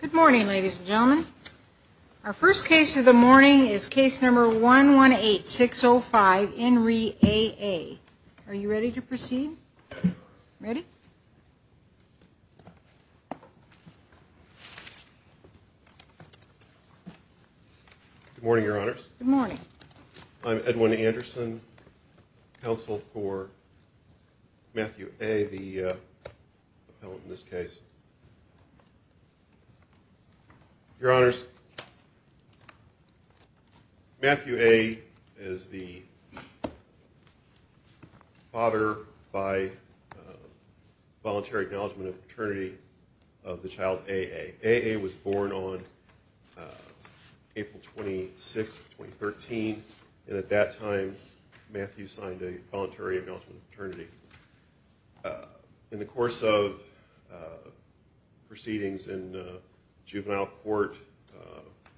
Good morning, ladies and gentlemen. Our first case of the morning is case number 118605, in re A.A. Are you ready to proceed? Ready? Good morning, Your Honors. Good morning. I'm Edwin Anderson, counsel for Matthew A., the appellant in this case. Your Honors, Matthew A. is the father by voluntary acknowledgement of paternity of the child A.A. A.A. was born on April 26, 2013, and at that time Matthew signed a voluntary acknowledgement of paternity. In the course of proceedings in juvenile court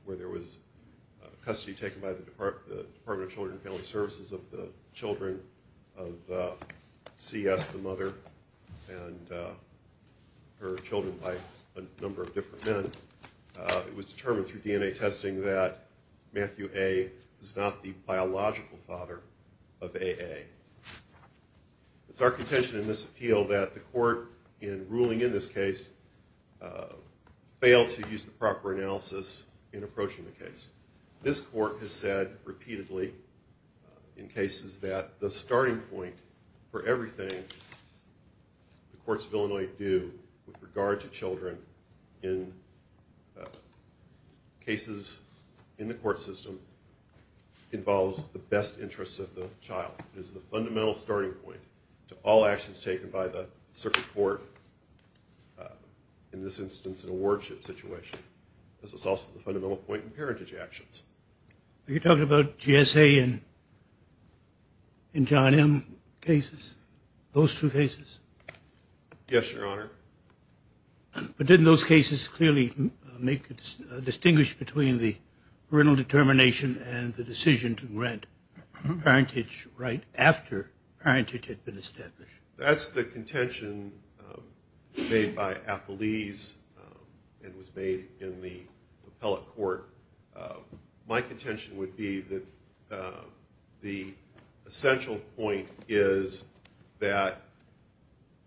where there was custody taken by the Department of Children and Family Services of the children of C.S., the mother, and her children by a number of different men, it was determined through DNA testing that Matthew A. is not the biological father of A.A. It's our contention in this appeal that the court, in ruling in this case, failed to use the proper analysis in approaching the case. This court has said repeatedly in cases that the starting point for everything the courts of Illinois do with regard to children in cases in the court system involves the best interests of the child. It is the fundamental starting point to all actions taken by the circuit court, in this instance, in a wardship situation. This is also the fundamental point in parentage actions. Are you talking about GSA and John M. cases, those two cases? Yes, Your Honor. But didn't those cases clearly make a distinguish between the parental determination and the decision to grant parentage right after parentage had been established? That's the contention made by Appelese and was made in the appellate court. My contention would be that the essential point is that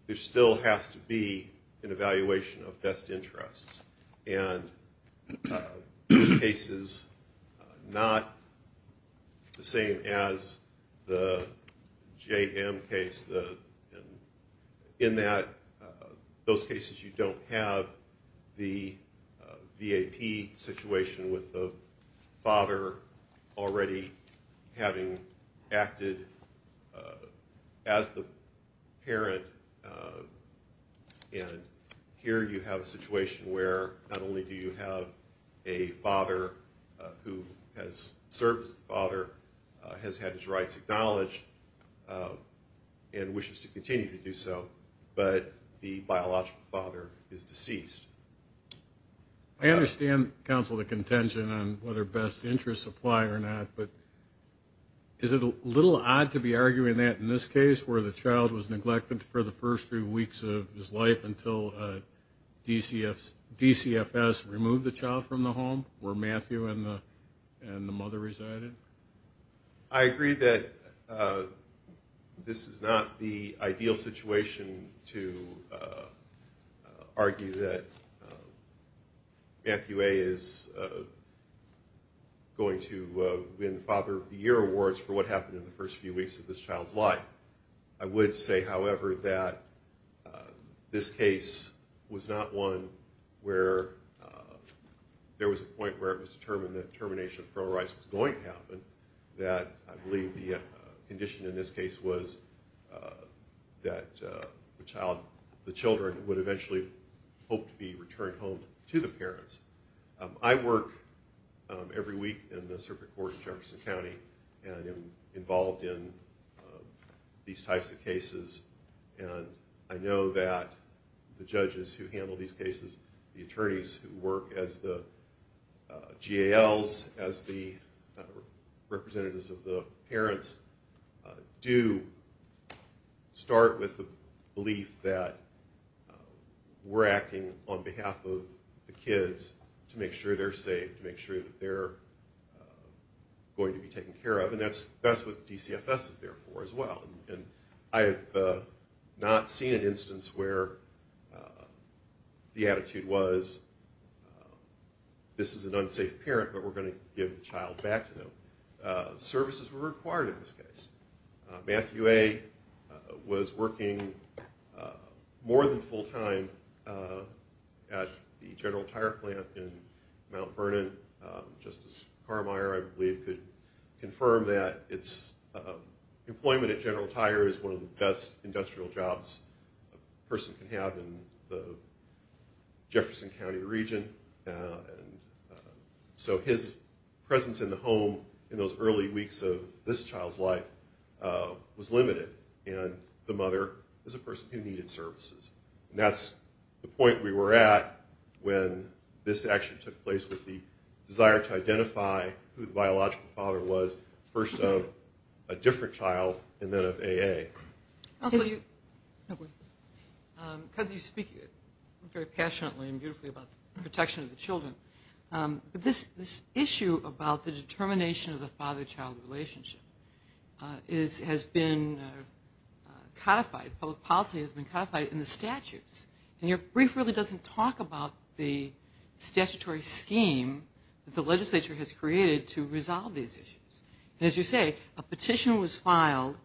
there still has to be an evaluation of best interests. And these cases are not the same as the J.M. case in that those cases you don't have the V.A.P. situation with the father already having acted as the parent. And here you have a situation where not only do you have a father who has served as the father, has had his rights acknowledged, and wishes to continue to do so, but the biological father is deceased. I understand, counsel, the contention on whether best interests apply or not, but is it a little odd to be arguing that in this case where the child was neglected for the first few weeks of his life until DCFS removed the child from the home where Matthew and the mother resided? I agree that this is not the ideal situation to argue that Matthew A. is going to win Father of the Year awards for what happened in the first few weeks of this child's life. I would say, however, that this case was not one where there was a point where it was determined that termination of parole rights was going to happen, that I believe the condition in this case was that the child, the children, would eventually hope to be returned home to the parents. I work every week in the circuit court in Jefferson County and am involved in these types of cases. I know that the judges who handle these cases, the attorneys who work as the GALs, as the representatives of the parents, do start with the belief that we're acting on behalf of the kids to make sure they're safe, to make sure that they're going to be taken care of, and that's what DCFS is there for as well. I have not seen an instance where the attitude was, this is an unsafe parent, but we're going to give the child back to them. Services were required in this case. Matthew A. was working more than full time at the general tire plant in Mount Vernon. Justice Carmeier, I believe, could confirm that employment at General Tire is one of the best industrial jobs a person can have in the Jefferson County region. So his presence in the home in those early weeks of this child's life was limited, and the mother was a person who needed services. And that's the point we were at when this action took place with the desire to identify who the biological father was, first of a different child and then of AA. Counselor, you speak very passionately and beautifully about the protection of the children, but this issue about the determination of the father-child relationship has been codified, public policy has been codified in the statutes, and your brief really doesn't talk about the statutory scheme that the legislature has created to resolve these issues. As you say, a petition was filed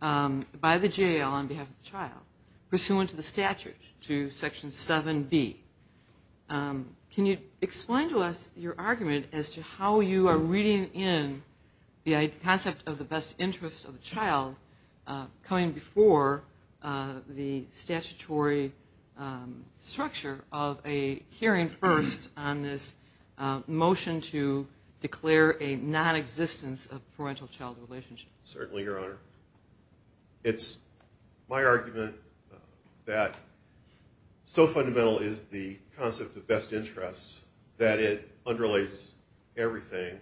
by the jail on behalf of the child, pursuant to the statute, to Section 7B. Can you explain to us your argument as to how you are reading in the concept of the best interest of the child coming before the statutory structure of a hearing first on this motion to declare a nonexistence of parental-child relationship? Certainly, Your Honor. It's my argument that so fundamental is the concept of best interest that it underlays everything, and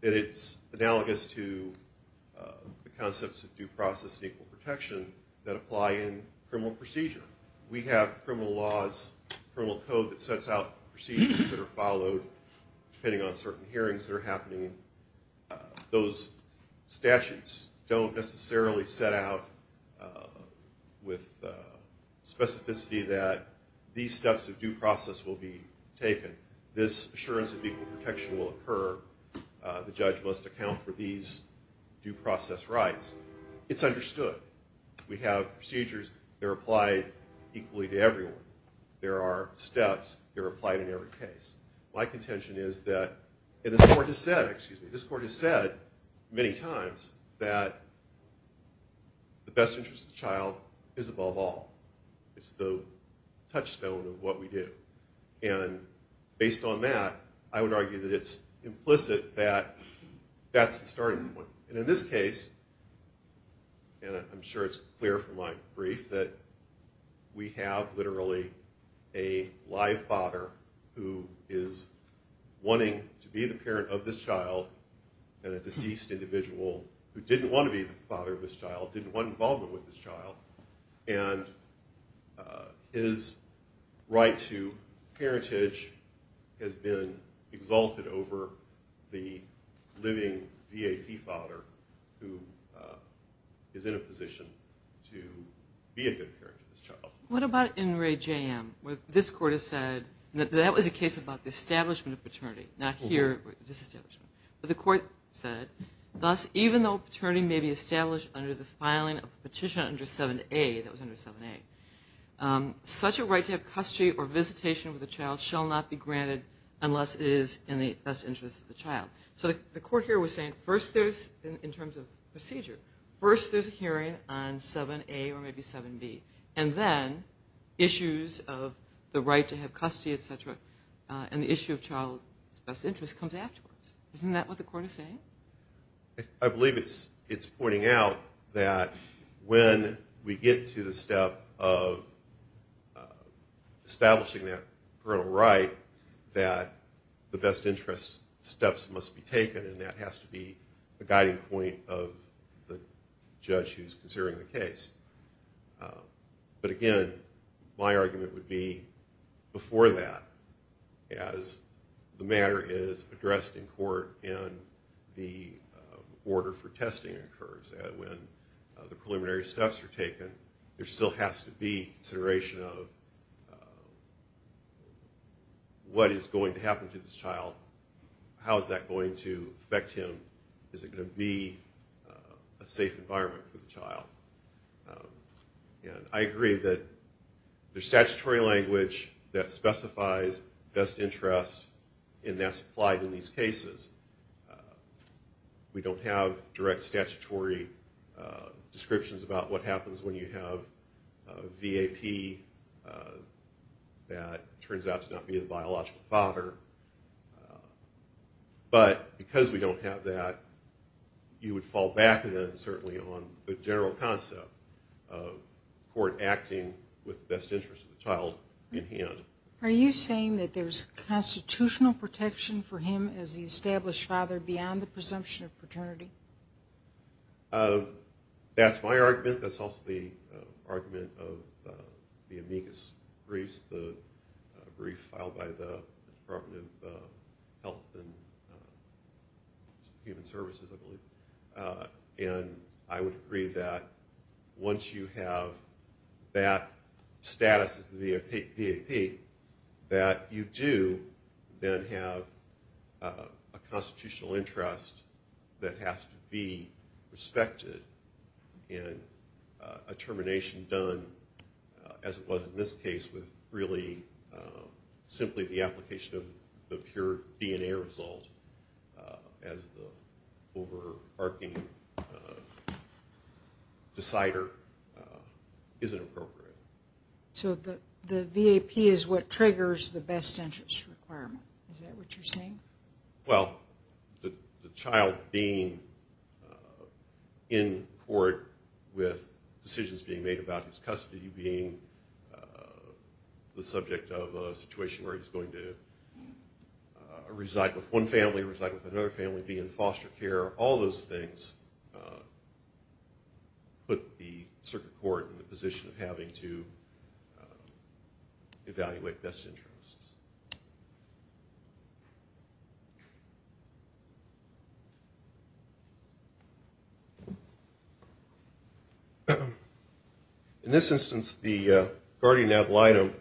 that it's analogous to the concepts of due process and equal protection that apply in criminal procedure. We have criminal laws, criminal code that sets out procedures that are followed, depending on certain hearings that are happening. Those statutes don't necessarily set out with specificity that these steps of due process will be taken. This assurance of equal protection will occur. The judge must account for these due process rights. It's understood. We have procedures that are applied equally to everyone. There are steps that are applied in every case. My contention is that this Court has said many times that the best interest of the child is above all. It's the touchstone of what we do. Based on that, I would argue that it's implicit that that's the starting point. In this case, and I'm sure it's clear from my brief, that we have literally a live father who is wanting to be the parent of this child, and a deceased individual who didn't want to be the father of this child, and his right to parentage has been exalted over the living V.A.P. father who is in a position to be a good parent to this child. What about in Ray J.M.? This Court has said that that was a case about the establishment of paternity, not here with this establishment. But the Court said, Thus, even though paternity may be established under the filing of a petition under 7A, that was under 7A, such a right to have custody or visitation with a child shall not be granted unless it is in the best interest of the child. So the Court here was saying, in terms of procedure, first there's a hearing on 7A or maybe 7B, and then issues of the right to have custody, et cetera, and the issue of child's best interest comes afterwards. Isn't that what the Court is saying? I believe it's pointing out that when we get to the step of establishing that parental right, that the best interest steps must be taken, and that has to be a guiding point of the judge who's considering the case. But again, my argument would be, before that, as the matter is addressed in court and the order for testing occurs, when the preliminary steps are taken, there still has to be consideration of what is going to happen to this child, how is that going to affect him, and is it going to be a safe environment for the child? And I agree that there's statutory language that specifies best interest, and that's applied in these cases. We don't have direct statutory descriptions about what happens when you have a V.A.P. that turns out to not be a biological father. But because we don't have that, you would fall back, then, certainly, on the general concept of court acting with the best interest of the child in hand. Are you saying that there's constitutional protection for him as the established father beyond the presumption of paternity? That's my argument. That's also the argument of the amicus briefs, the brief filed by the Department of Health and Human Services, I believe. And I would agree that once you have that status as the V.A.P., that you do then have a constitutional interest that has to be respected and a termination done, as it was in this case, with really simply the application of the pure DNA result as the overarching decider isn't appropriate. So the V.A.P. is what triggers the best interest requirement. Is that what you're saying? Well, the child being in court with decisions being made about his custody, being the subject of a situation where he's going to reside with one family, reside with another family, be in foster care, all those things, put the circuit court in the position of having to evaluate best interests. In this instance, the guardian ad litem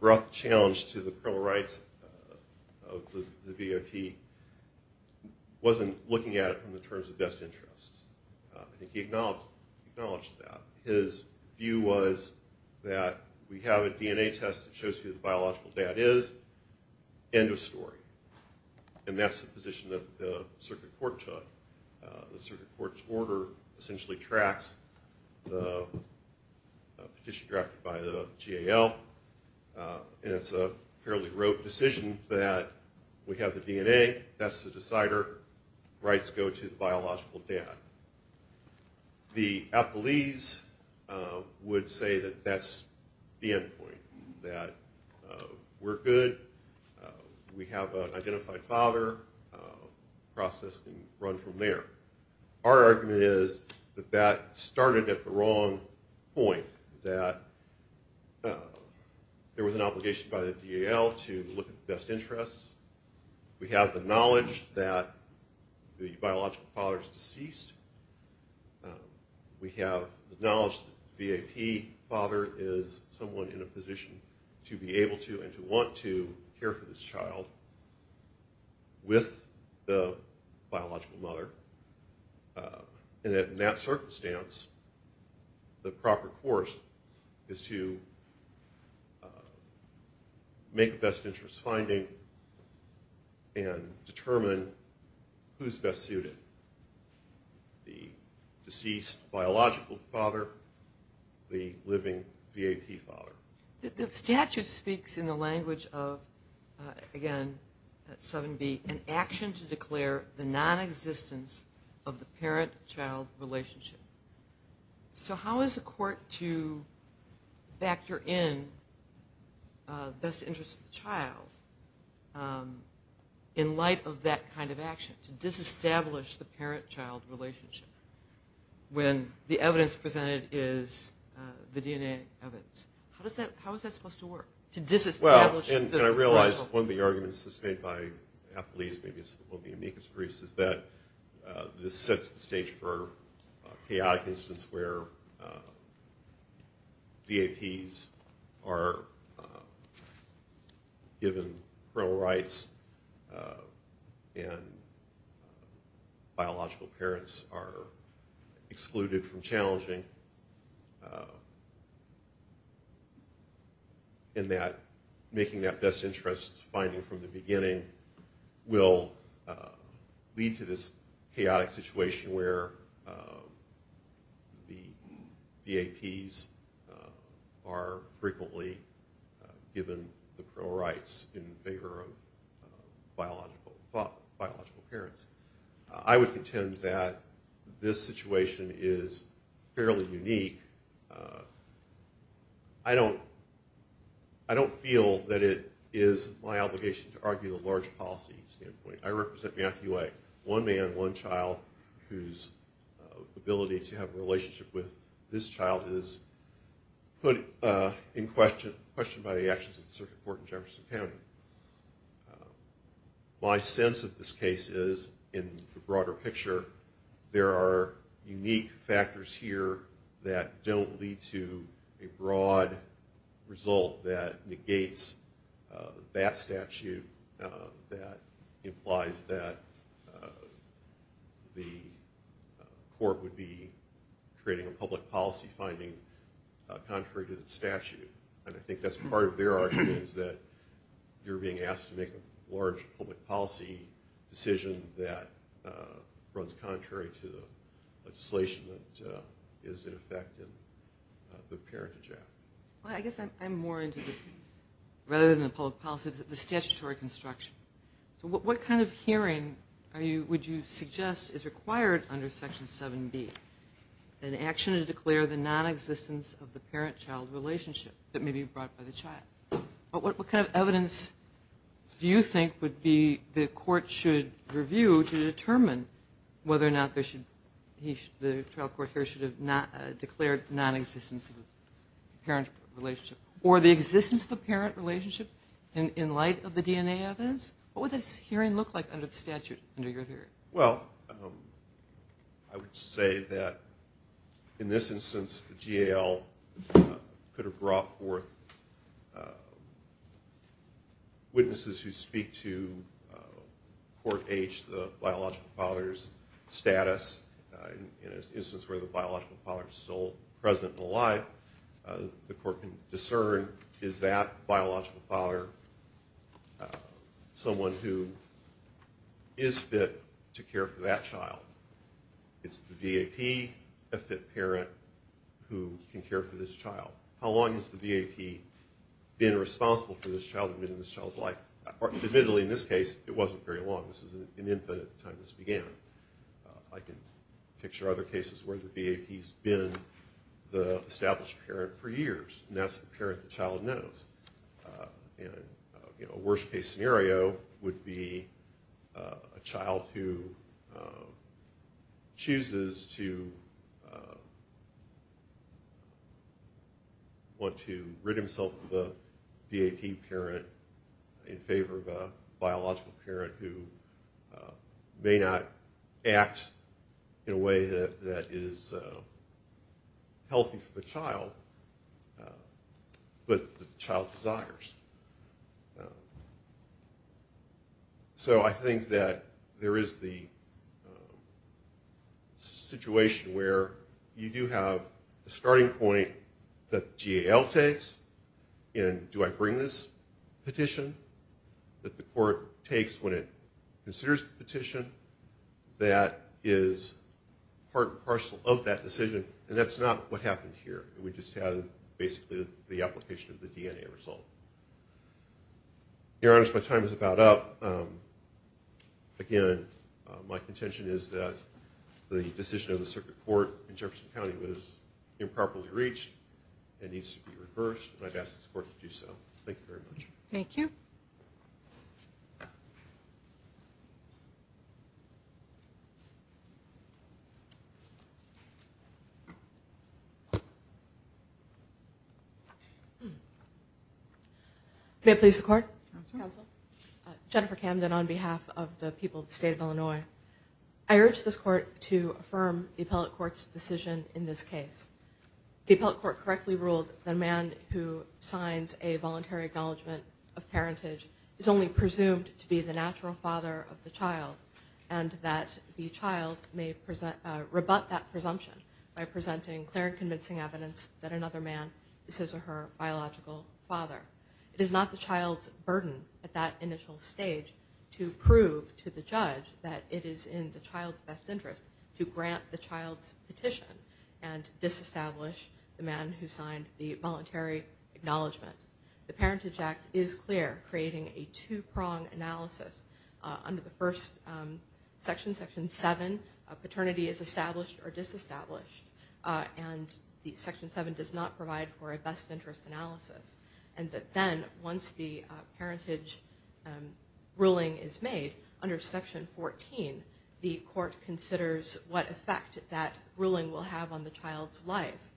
brought the challenge to the criminal rights of the V.A.P. wasn't looking at it from the terms of best interests. I think he acknowledged that. His view was that we have a DNA test that shows you the biological dad is. End of story. And that's the position that the circuit court took. The circuit court's order essentially tracks the petition drafted by the G.A.L. and it's a fairly rote decision that we have the DNA. That's the decider. Rights go to the biological dad. The appellees would say that that's the end point, that we're good. We have an identified father. Process can run from there. Our argument is that that started at the wrong point, that there was an obligation by the G.A.L. to look at best interests. We have the knowledge that the biological father is deceased. We have the knowledge that the V.A.P. father is someone in a position to be able to and to want to care for this child with the biological mother. And in that circumstance, the proper course is to make a best interest finding and determine who's best suited, the deceased biological father, the living V.A.P. father. The statute speaks in the language of, again, 7B, an action to declare the nonexistence of the parent-child relationship. So how is a court to factor in best interests of the child in light of that kind of action, to disestablish the parent-child relationship when the evidence presented is the DNA evidence? How is that supposed to work, to disestablish the biological father? Well, and I realize one of the arguments that's made by Apolyse, maybe it's one of the amicus briefs, is that this sets the stage for chaotic incidents where V.A.P.s are given parental rights and biological parents are excluded from challenging. And that making that best interest finding from the beginning will lead to this chaotic situation where the V.A.P.s are frequently given the parole rights in favor of biological parents. I would contend that this situation is fairly unique. I don't feel that it is my obligation to argue the large policy standpoint. I represent Matthew A., one man, one child, whose ability to have a relationship with this child is put in question by the actions of the Circuit Court in Jefferson County. My sense of this case is, in the broader picture, there are unique factors here that don't lead to a broad result that negates that statute, that implies that the court would be creating a public policy finding contrary to the statute. And I think that's part of their argument, is that you're being asked to make a large public policy decision that runs contrary to the legislation that is in effect in the Parentage Act. Well, I guess I'm more into, rather than the public policy, the statutory construction. So what kind of hearing would you suggest is required under Section 7B, an action to declare the nonexistence of the parent-child relationship that may be brought by the child? What kind of evidence do you think would be, the court should review to determine whether or not the trial court here should have declared nonexistence of a parent relationship, or the existence of a parent relationship in light of the DNA evidence? What would this hearing look like under the statute, under your theory? Well, I would say that, in this instance, the GAL could have brought forth witnesses who speak to Court H, the biological father's status. In an instance where the biological father is still present and alive, the court can discern, is that biological father someone who is fit to care for that child? Is the VAP a fit parent who can care for this child? How long has the VAP been responsible for this child in this child's life? Admittedly, in this case, it wasn't very long. This is an infant at the time this began. I can picture other cases where the VAP's been the established parent for years, and that's the parent the child knows. A worst-case scenario would be a child who chooses to want to rid himself of a VAP parent in favor of a biological parent who may not act in a way that is healthy for the child, but the child desires. So I think that there is the situation where you do have a starting point that GAL takes, and do I bring this petition that the court takes when it considers the petition that is part and parcel of that decision? And that's not what happened here. We just have basically the application of the DNA result. Your Honor, as my time is about up, again, my contention is that the decision of the Circuit Court in Jefferson County was improperly reached. It needs to be reversed, and I'd ask this Court to do so. Thank you very much. Thank you. May it please the Court? Counsel. Counsel. Jennifer Camden on behalf of the people of the State of Illinois. I urge this Court to affirm the appellate court's decision in this case. The appellate court correctly ruled that a man who signs a voluntary acknowledgement of parentage is only presumed to be the natural father of the child, and that the child may rebut that presumption by presenting clear and convincing evidence that another man is his or her biological father. It is not the child's burden at that initial stage to prove to the judge that it is in the child's best interest to grant the child's petition and disestablish the man who signed the voluntary acknowledgement. The Parentage Act is clear, creating a two-prong analysis. Under the first section, Section 7, paternity is established or disestablished, and Section 7 does not provide for a best interest analysis. And then once the parentage ruling is made, under Section 14, the court considers what effect that ruling will have on the child's life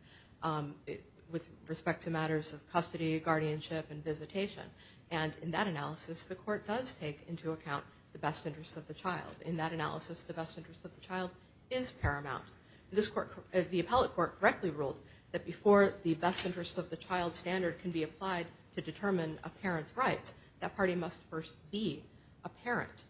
with respect to matters of custody, guardianship, and visitation. And in that analysis, the court does take into account the best interest of the child. In that analysis, the best interest of the child is paramount. The appellate court correctly ruled that before the best interest of the child standard can be applied to determine a parent's rights, that party must first be a parent.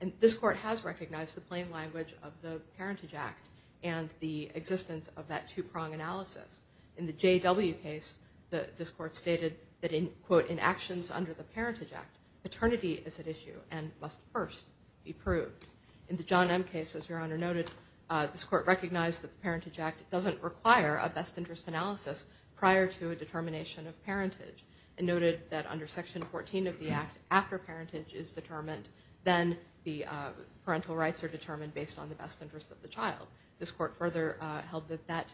And this court has recognized the plain language of the Parentage Act and the existence of that two-prong analysis. In the J.W. case, this court stated that, quote, in actions under the Parentage Act, paternity is at issue and must first be proved. In the John M. case, as Your Honor noted, this court recognized that the Parentage Act doesn't require a best interest analysis prior to a determination of parentage and noted that under Section 14 of the Act, after parentage is determined, then the parental rights are determined based on the best interest of the child. This court further held that that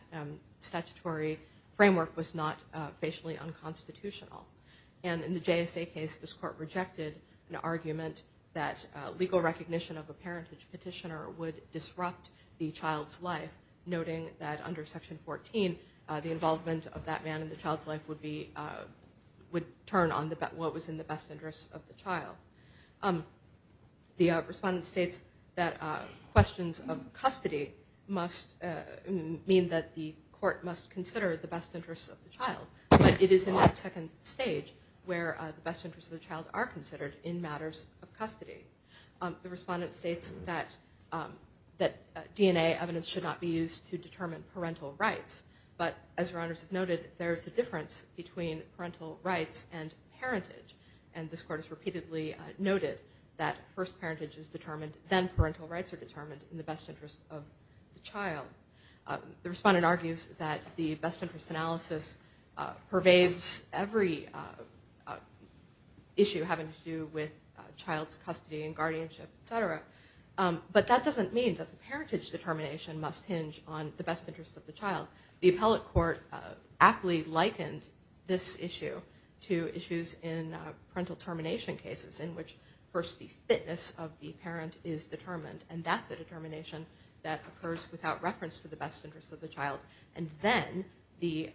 statutory framework was not facially unconstitutional. And in the JSA case, this court rejected an argument that legal recognition of a parenthood petitioner would disrupt the child's life, noting that under Section 14, the involvement of that man in the child's life would turn on what was in the best interest of the child. The respondent states that questions of custody mean that the court must consider the best interest of the child, but it is in that second stage where the best interests of the child are considered in matters of custody. The respondent states that DNA evidence should not be used to determine parental rights, but as Your Honors have noted, there is a difference between parental rights and parentage. And this court has repeatedly noted that first parentage is determined, then parental rights are determined in the best interest of the child. The respondent argues that the best interest analysis pervades every issue having to do with child's custody and guardianship, et cetera. But that doesn't mean that the parentage determination must hinge on the best interest of the child. The appellate court aptly likened this issue to issues in parental termination cases in which first the fitness of the parent is determined, and that's a determination that occurs without reference to the best interest of the child. And then the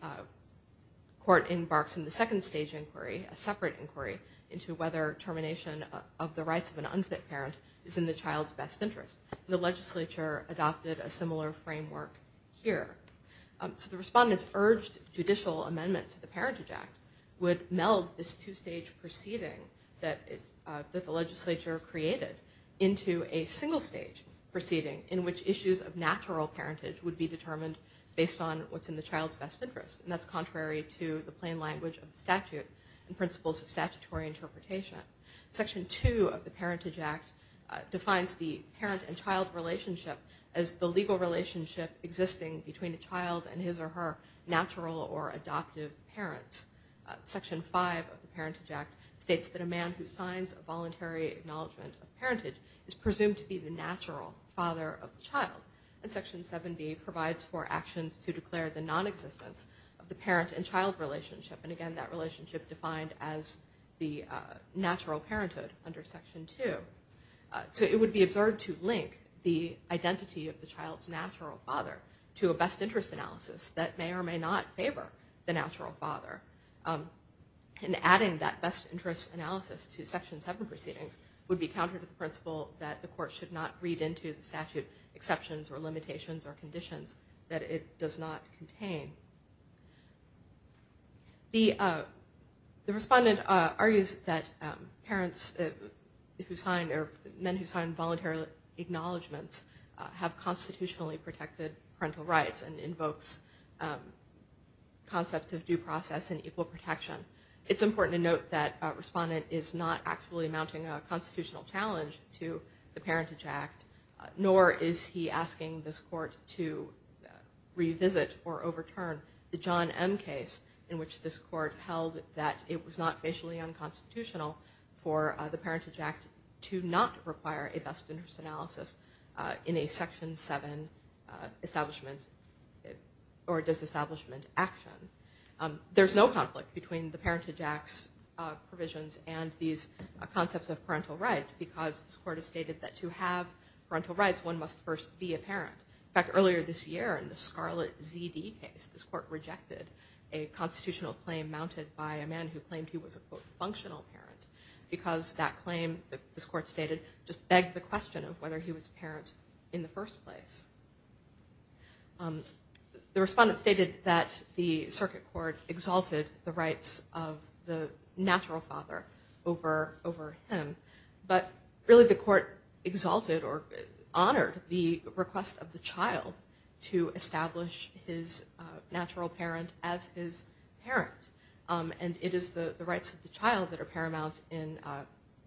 court embarks in the second stage inquiry, a separate inquiry, into whether termination of the rights of an unfit parent is in the child's best interest. The legislature adopted a similar framework here. So the respondents urged judicial amendment to the Parentage Act would meld this two-stage proceeding that the legislature created into a single-stage proceeding in which issues of natural parentage would be determined based on what's in the child's best interest. And that's contrary to the plain language of the statute and principles of statutory interpretation. Section 2 of the Parentage Act defines the parent and child relationship as the legal relationship existing between a child and his or her natural or adoptive parents. Section 5 of the Parentage Act states that a man who signs a voluntary acknowledgement of parenthood is presumed to be the natural father of the child. And Section 7B provides for actions to declare the nonexistence of the parent and child relationship. And again, that relationship defined as the natural parenthood under Section 2. So it would be absurd to link the identity of the child's natural father to a best interest analysis that may or may not favor the natural father. And adding that best interest analysis to Section 7 proceedings would be counter to the principle that the court should not read into the statute exceptions or limitations or conditions that it does not contain. The respondent argues that parents who sign or men who sign voluntary acknowledgements have constitutionally protected parental rights and invokes concepts of due process and equal protection. It's important to note that a respondent is not actually mounting a constitutional challenge to the Parentage Act, nor is he asking this court to revisit or overturn the John M. case in which this court held that it was not racially unconstitutional for the Parentage Act to not require a best interest analysis in a Section 7 establishment or disestablishment action. There's no conflict between the Parentage Act's provisions and these concepts of parental rights because this court has stated that to have parental rights, one must first be a parent. In fact, earlier this year in the Scarlett Z.D. case, this court rejected a constitutional claim mounted by a man who claimed he was a, quote, functional parent because that claim, this court stated, just begged the question of whether he was a parent in the first place. The respondent stated that the circuit court exalted the rights of the natural father over him, but really the court exalted or honored the request of the child to establish his natural parent as his parent. And it is the rights of the child that are paramount in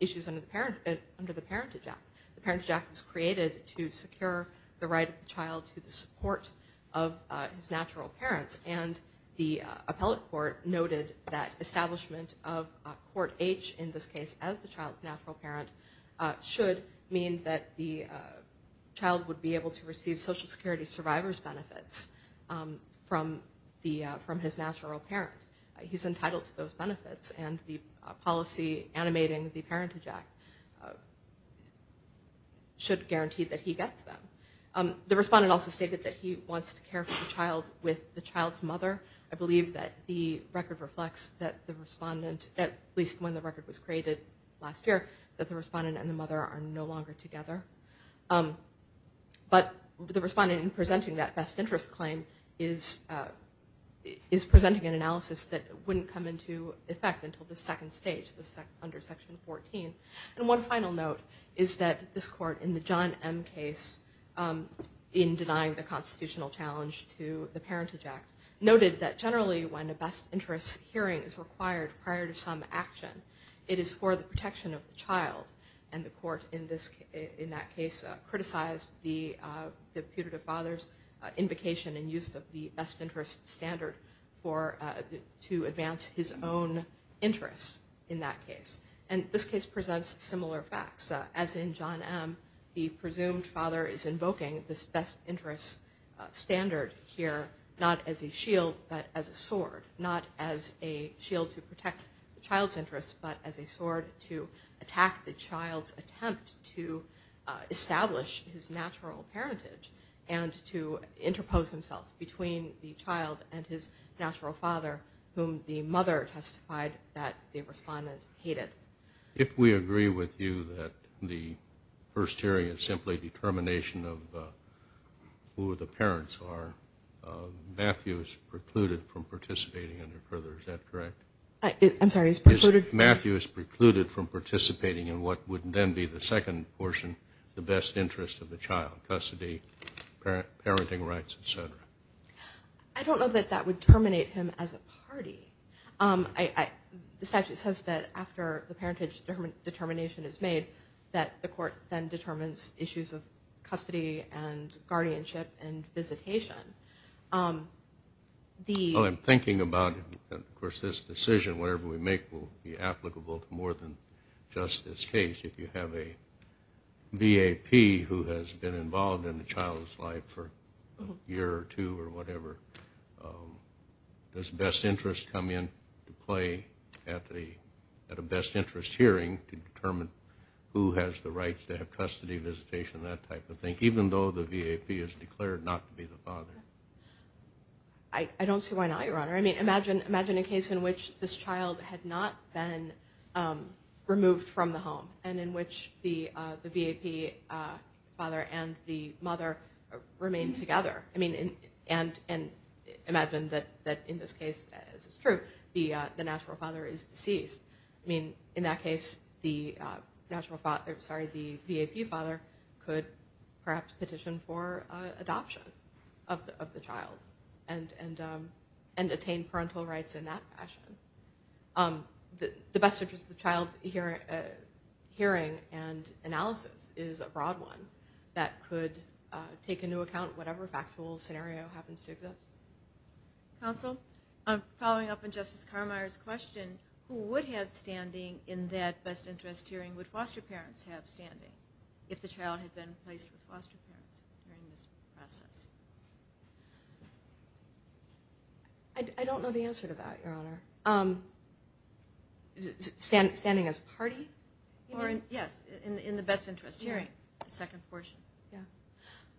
issues under the Parentage Act. The Parentage Act was created to secure the right of the child to the support of his natural parents, and the appellate court noted that establishment of Court H, in this case, as the child's natural parent, should mean that the child would be able to receive Social Security Survivor's benefits from his natural parent. He's entitled to those benefits, and the policy animating the Parentage Act should guarantee that he gets them. The respondent also stated that he wants to care for the child with the child's mother. I believe that the record reflects that the respondent, at least when the record was created last year, that the respondent and the mother are no longer together. But the respondent in presenting that best interest claim is presenting an analysis that wouldn't come into effect until the second stage, under Section 14. And one final note is that this court, in the John M. case, in denying the constitutional challenge to the Parentage Act, noted that generally when a best interest hearing is required prior to some action, it is for the protection of the child. And the court, in that case, criticized the putative father's invocation and use of the best interest standard to advance his own interests in that case. And this case presents similar facts. As in John M., the presumed father is invoking this best interest standard here, not as a shield, but as a sword. Not as a shield to protect the child's interests, but as a sword to attack the child's attempt to establish his natural parentage and to interpose himself between the child and his natural father, whom the mother testified that the respondent hated. If we agree with you that the first hearing is simply determination of who the parents are, Matthew is precluded from participating any further. Is that correct? I'm sorry, he's precluded? Matthew is precluded from participating in what would then be the second portion, the best interest of the child, custody, parenting rights, et cetera. I don't know that that would terminate him as a party. The statute says that after the parentage determination is made, that the court then determines issues of custody and guardianship and visitation. I'm thinking about, of course, this decision, whatever we make will be applicable to more than just this case. If you have a V.A.P. who has been involved in a child's life for a year or two or whatever, does best interest come in to play at a best interest hearing to determine who has the rights to have custody, visitation, that type of thing, even though the V.A.P. has declared not to be the father? I don't see why not, Your Honor. I mean, imagine a case in which this child had not been removed from the home and in which the V.A.P. father and the mother remained together. I mean, and imagine that in this case, as is true, the natural father is deceased. I mean, in that case, the V.A.P. father could perhaps petition for adoption of the child and attain parental rights in that fashion. The best interest of the child hearing and analysis is a broad one that could take into account whatever factual scenario happens to exist. Counsel, following up on Justice Carmeier's question, who would have standing in that best interest hearing? Would foster parents have standing if the child had been placed with foster parents during this process? I don't know the answer to that, Your Honor. Standing as party? Yes, in the best interest hearing, the second portion.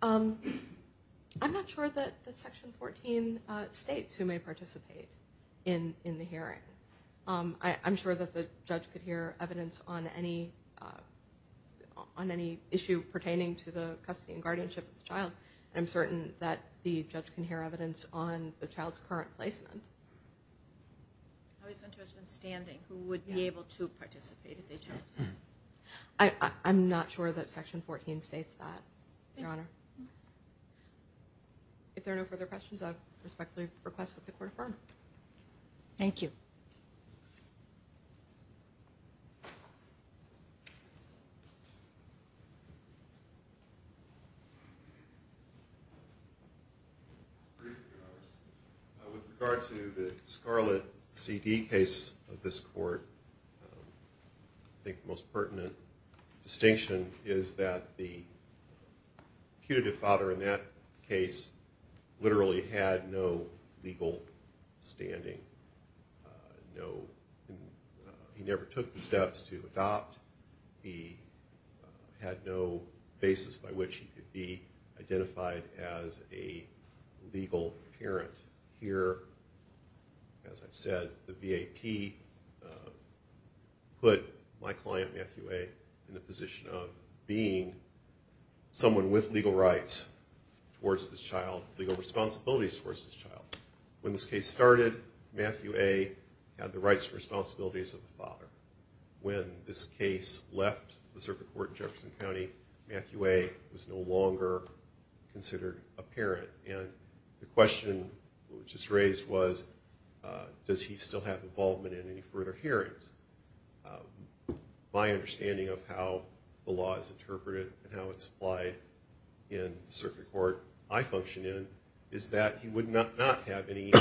I'm not sure that Section 14 states who may participate in the hearing. I'm sure that the judge could hear evidence on any issue pertaining to the custody and guardianship of the child. I'm certain that the judge can hear evidence on the child's current placement. I was interested in standing. Who would be able to participate if they chose to? I'm not sure that Section 14 states that, Your Honor. If there are no further questions, I respectfully request that the Court affirm. Thank you. With regard to the Scarlett CD case of this court, I think the most pertinent distinction is that the putative father in that case literally had no legal standing. He never took the steps to adopt. He had no basis by which he could be identified as a legal parent. Here, as I've said, the V.A.P. put my client, Matthew A., in the position of being someone with legal rights towards this child, legal responsibilities towards this child. When this case started, Matthew A. had the rights and responsibilities of a father. When this case left the circuit court in Jefferson County, Matthew A. was no longer considered a parent. And the question which was raised was, does he still have involvement in any further hearings? My understanding of how the law is interpreted and how it's applied in the circuit court I function in is that he would not have any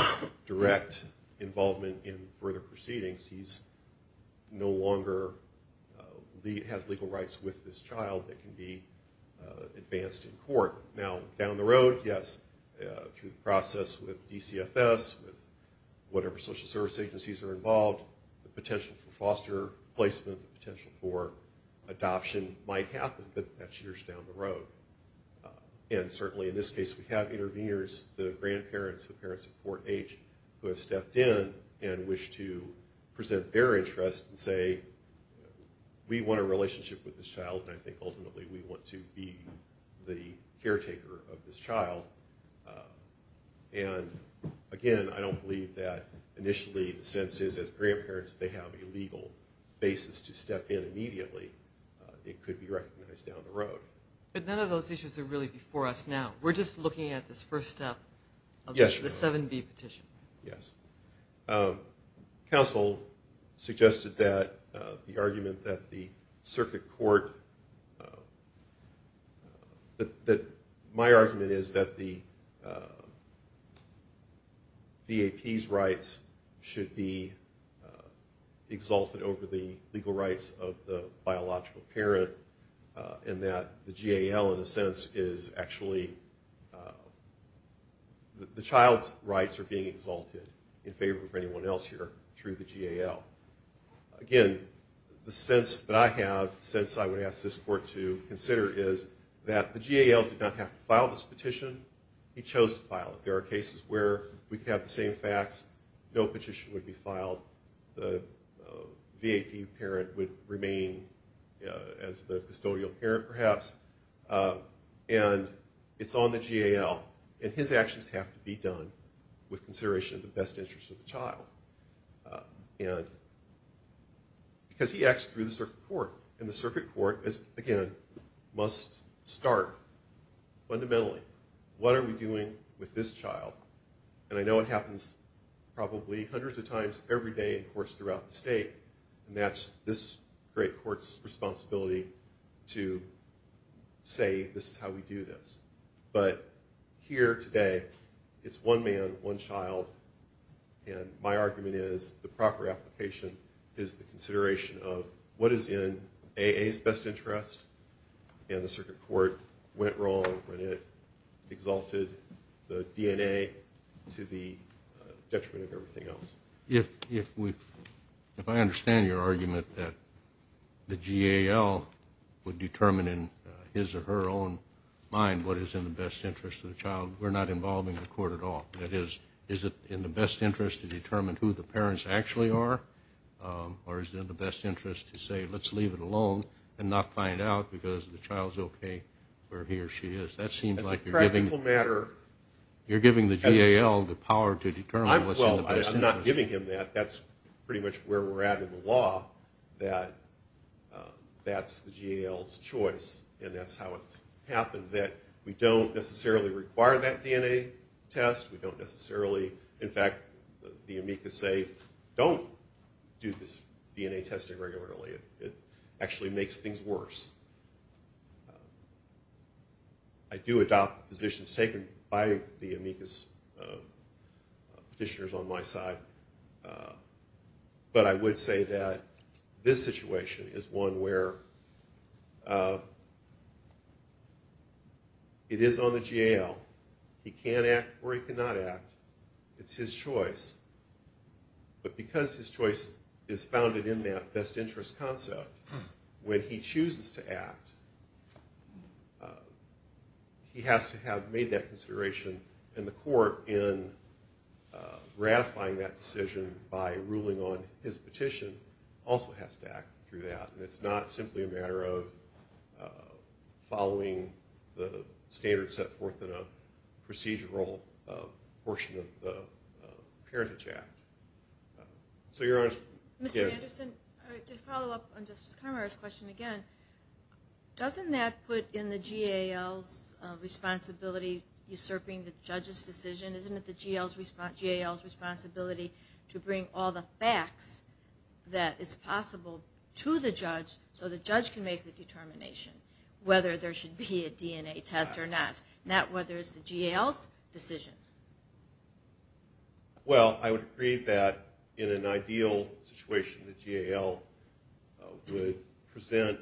direct involvement in further proceedings. He no longer has legal rights with this child that can be advanced in court. Now, down the road, yes, through the process with DCFS, with whatever social service agencies are involved, the potential for foster placement, the potential for adoption might happen, but that's years down the road. And certainly in this case we have interveners, the grandparents, the parents of poor age who have stepped in and wish to present their interest and say we want a relationship with this child and I think ultimately we want to be the caretaker of this child. And again, I don't believe that initially the sense is as grandparents they have a legal basis to step in immediately. It could be recognized down the road. But none of those issues are really before us now. We're just looking at this first step of the 7B petition. Yes. Counsel suggested that the argument that the circuit court, that my argument is that the VAP's rights should be exalted over the legal rights of the biological parent and that the GAL in a sense is actually the child's rights are being exalted in favor of anyone else here through the GAL. Again, the sense that I have, the sense I would ask this court to consider, is that the GAL did not have to file this petition. He chose to file it. There are cases where we have the same facts. No petition would be filed. The VAP parent would remain as the custodial parent perhaps. And it's on the GAL, and his actions have to be done with consideration of the best interest of the child. Because he acts through the circuit court, and the circuit court, again, must start fundamentally. What are we doing with this child? And I know it happens probably hundreds of times every day, of course, throughout the state, and that's this great court's responsibility to say this is how we do this. But here today, it's one man, one child, and my argument is the proper application is the consideration of what is in AA's best interest, and the circuit court went wrong when it exalted the DNA to the detriment of everything else. If I understand your argument that the GAL would determine in his or her own mind what is in the best interest of the child, we're not involving the court at all. That is, is it in the best interest to determine who the parents actually are, or is it in the best interest to say let's leave it alone and not find out because the child's okay where he or she is? That seems like you're giving the GAL the power to determine what's in the best interest. Well, I'm not giving him that. That's pretty much where we're at in the law, that that's the GAL's choice, and that's how it's happened, that we don't necessarily require that DNA test. We don't necessarily, in fact, the amicus say don't do this DNA testing regularly. It actually makes things worse. I do adopt positions taken by the amicus petitioners on my side, but I would say that this situation is one where it is on the GAL. He can act or he cannot act. It's his choice, but because his choice is founded in that best interest concept, when he chooses to act, he has to have made that consideration, and the court, in ratifying that decision by ruling on his petition, also has to act through that, and it's not simply a matter of following the standards set forth in a procedural portion of the parentage act. Mr. Anderson, to follow up on Justice Conroy's question again, doesn't that put in the GAL's responsibility usurping the judge's decision? Isn't it the GAL's responsibility to bring all the facts that is possible to the judge so the judge can make the determination whether there should be a DNA test or not, not whether it's the GAL's decision? Well, I would agree that in an ideal situation, the GAL would present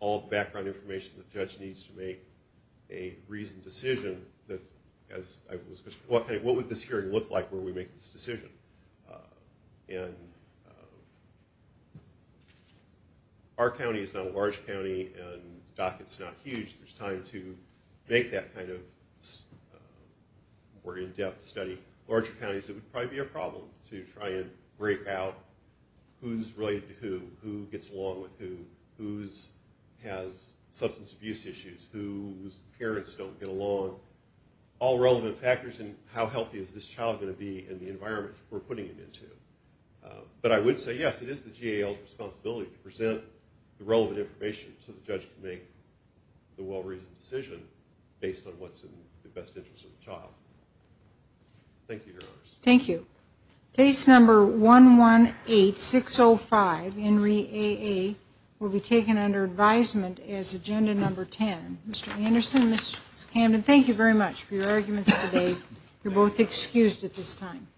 all the background information the judge needs to make a reasoned decision. What would this hearing look like where we make this decision? Our county is not a large county, and the docket's not huge. There's time to make that kind of more in-depth study. Larger counties, it would probably be a problem to try and break out who's related to who, who gets along with who, who has substance abuse issues, who's parents don't get along, all relevant factors in how healthy is this child going to be and the environment we're putting it into. But I would say yes, it is the GAL's responsibility to present the relevant information so the judge can make the well-reasoned decision based on what's in the best interest of the child. Thank you, Your Honors. Thank you. Case number 118605, Henri AA, will be taken under advisement as agenda number 10. Mr. Anderson, Ms. Camden, thank you very much for your arguments today. You're both excused at this time.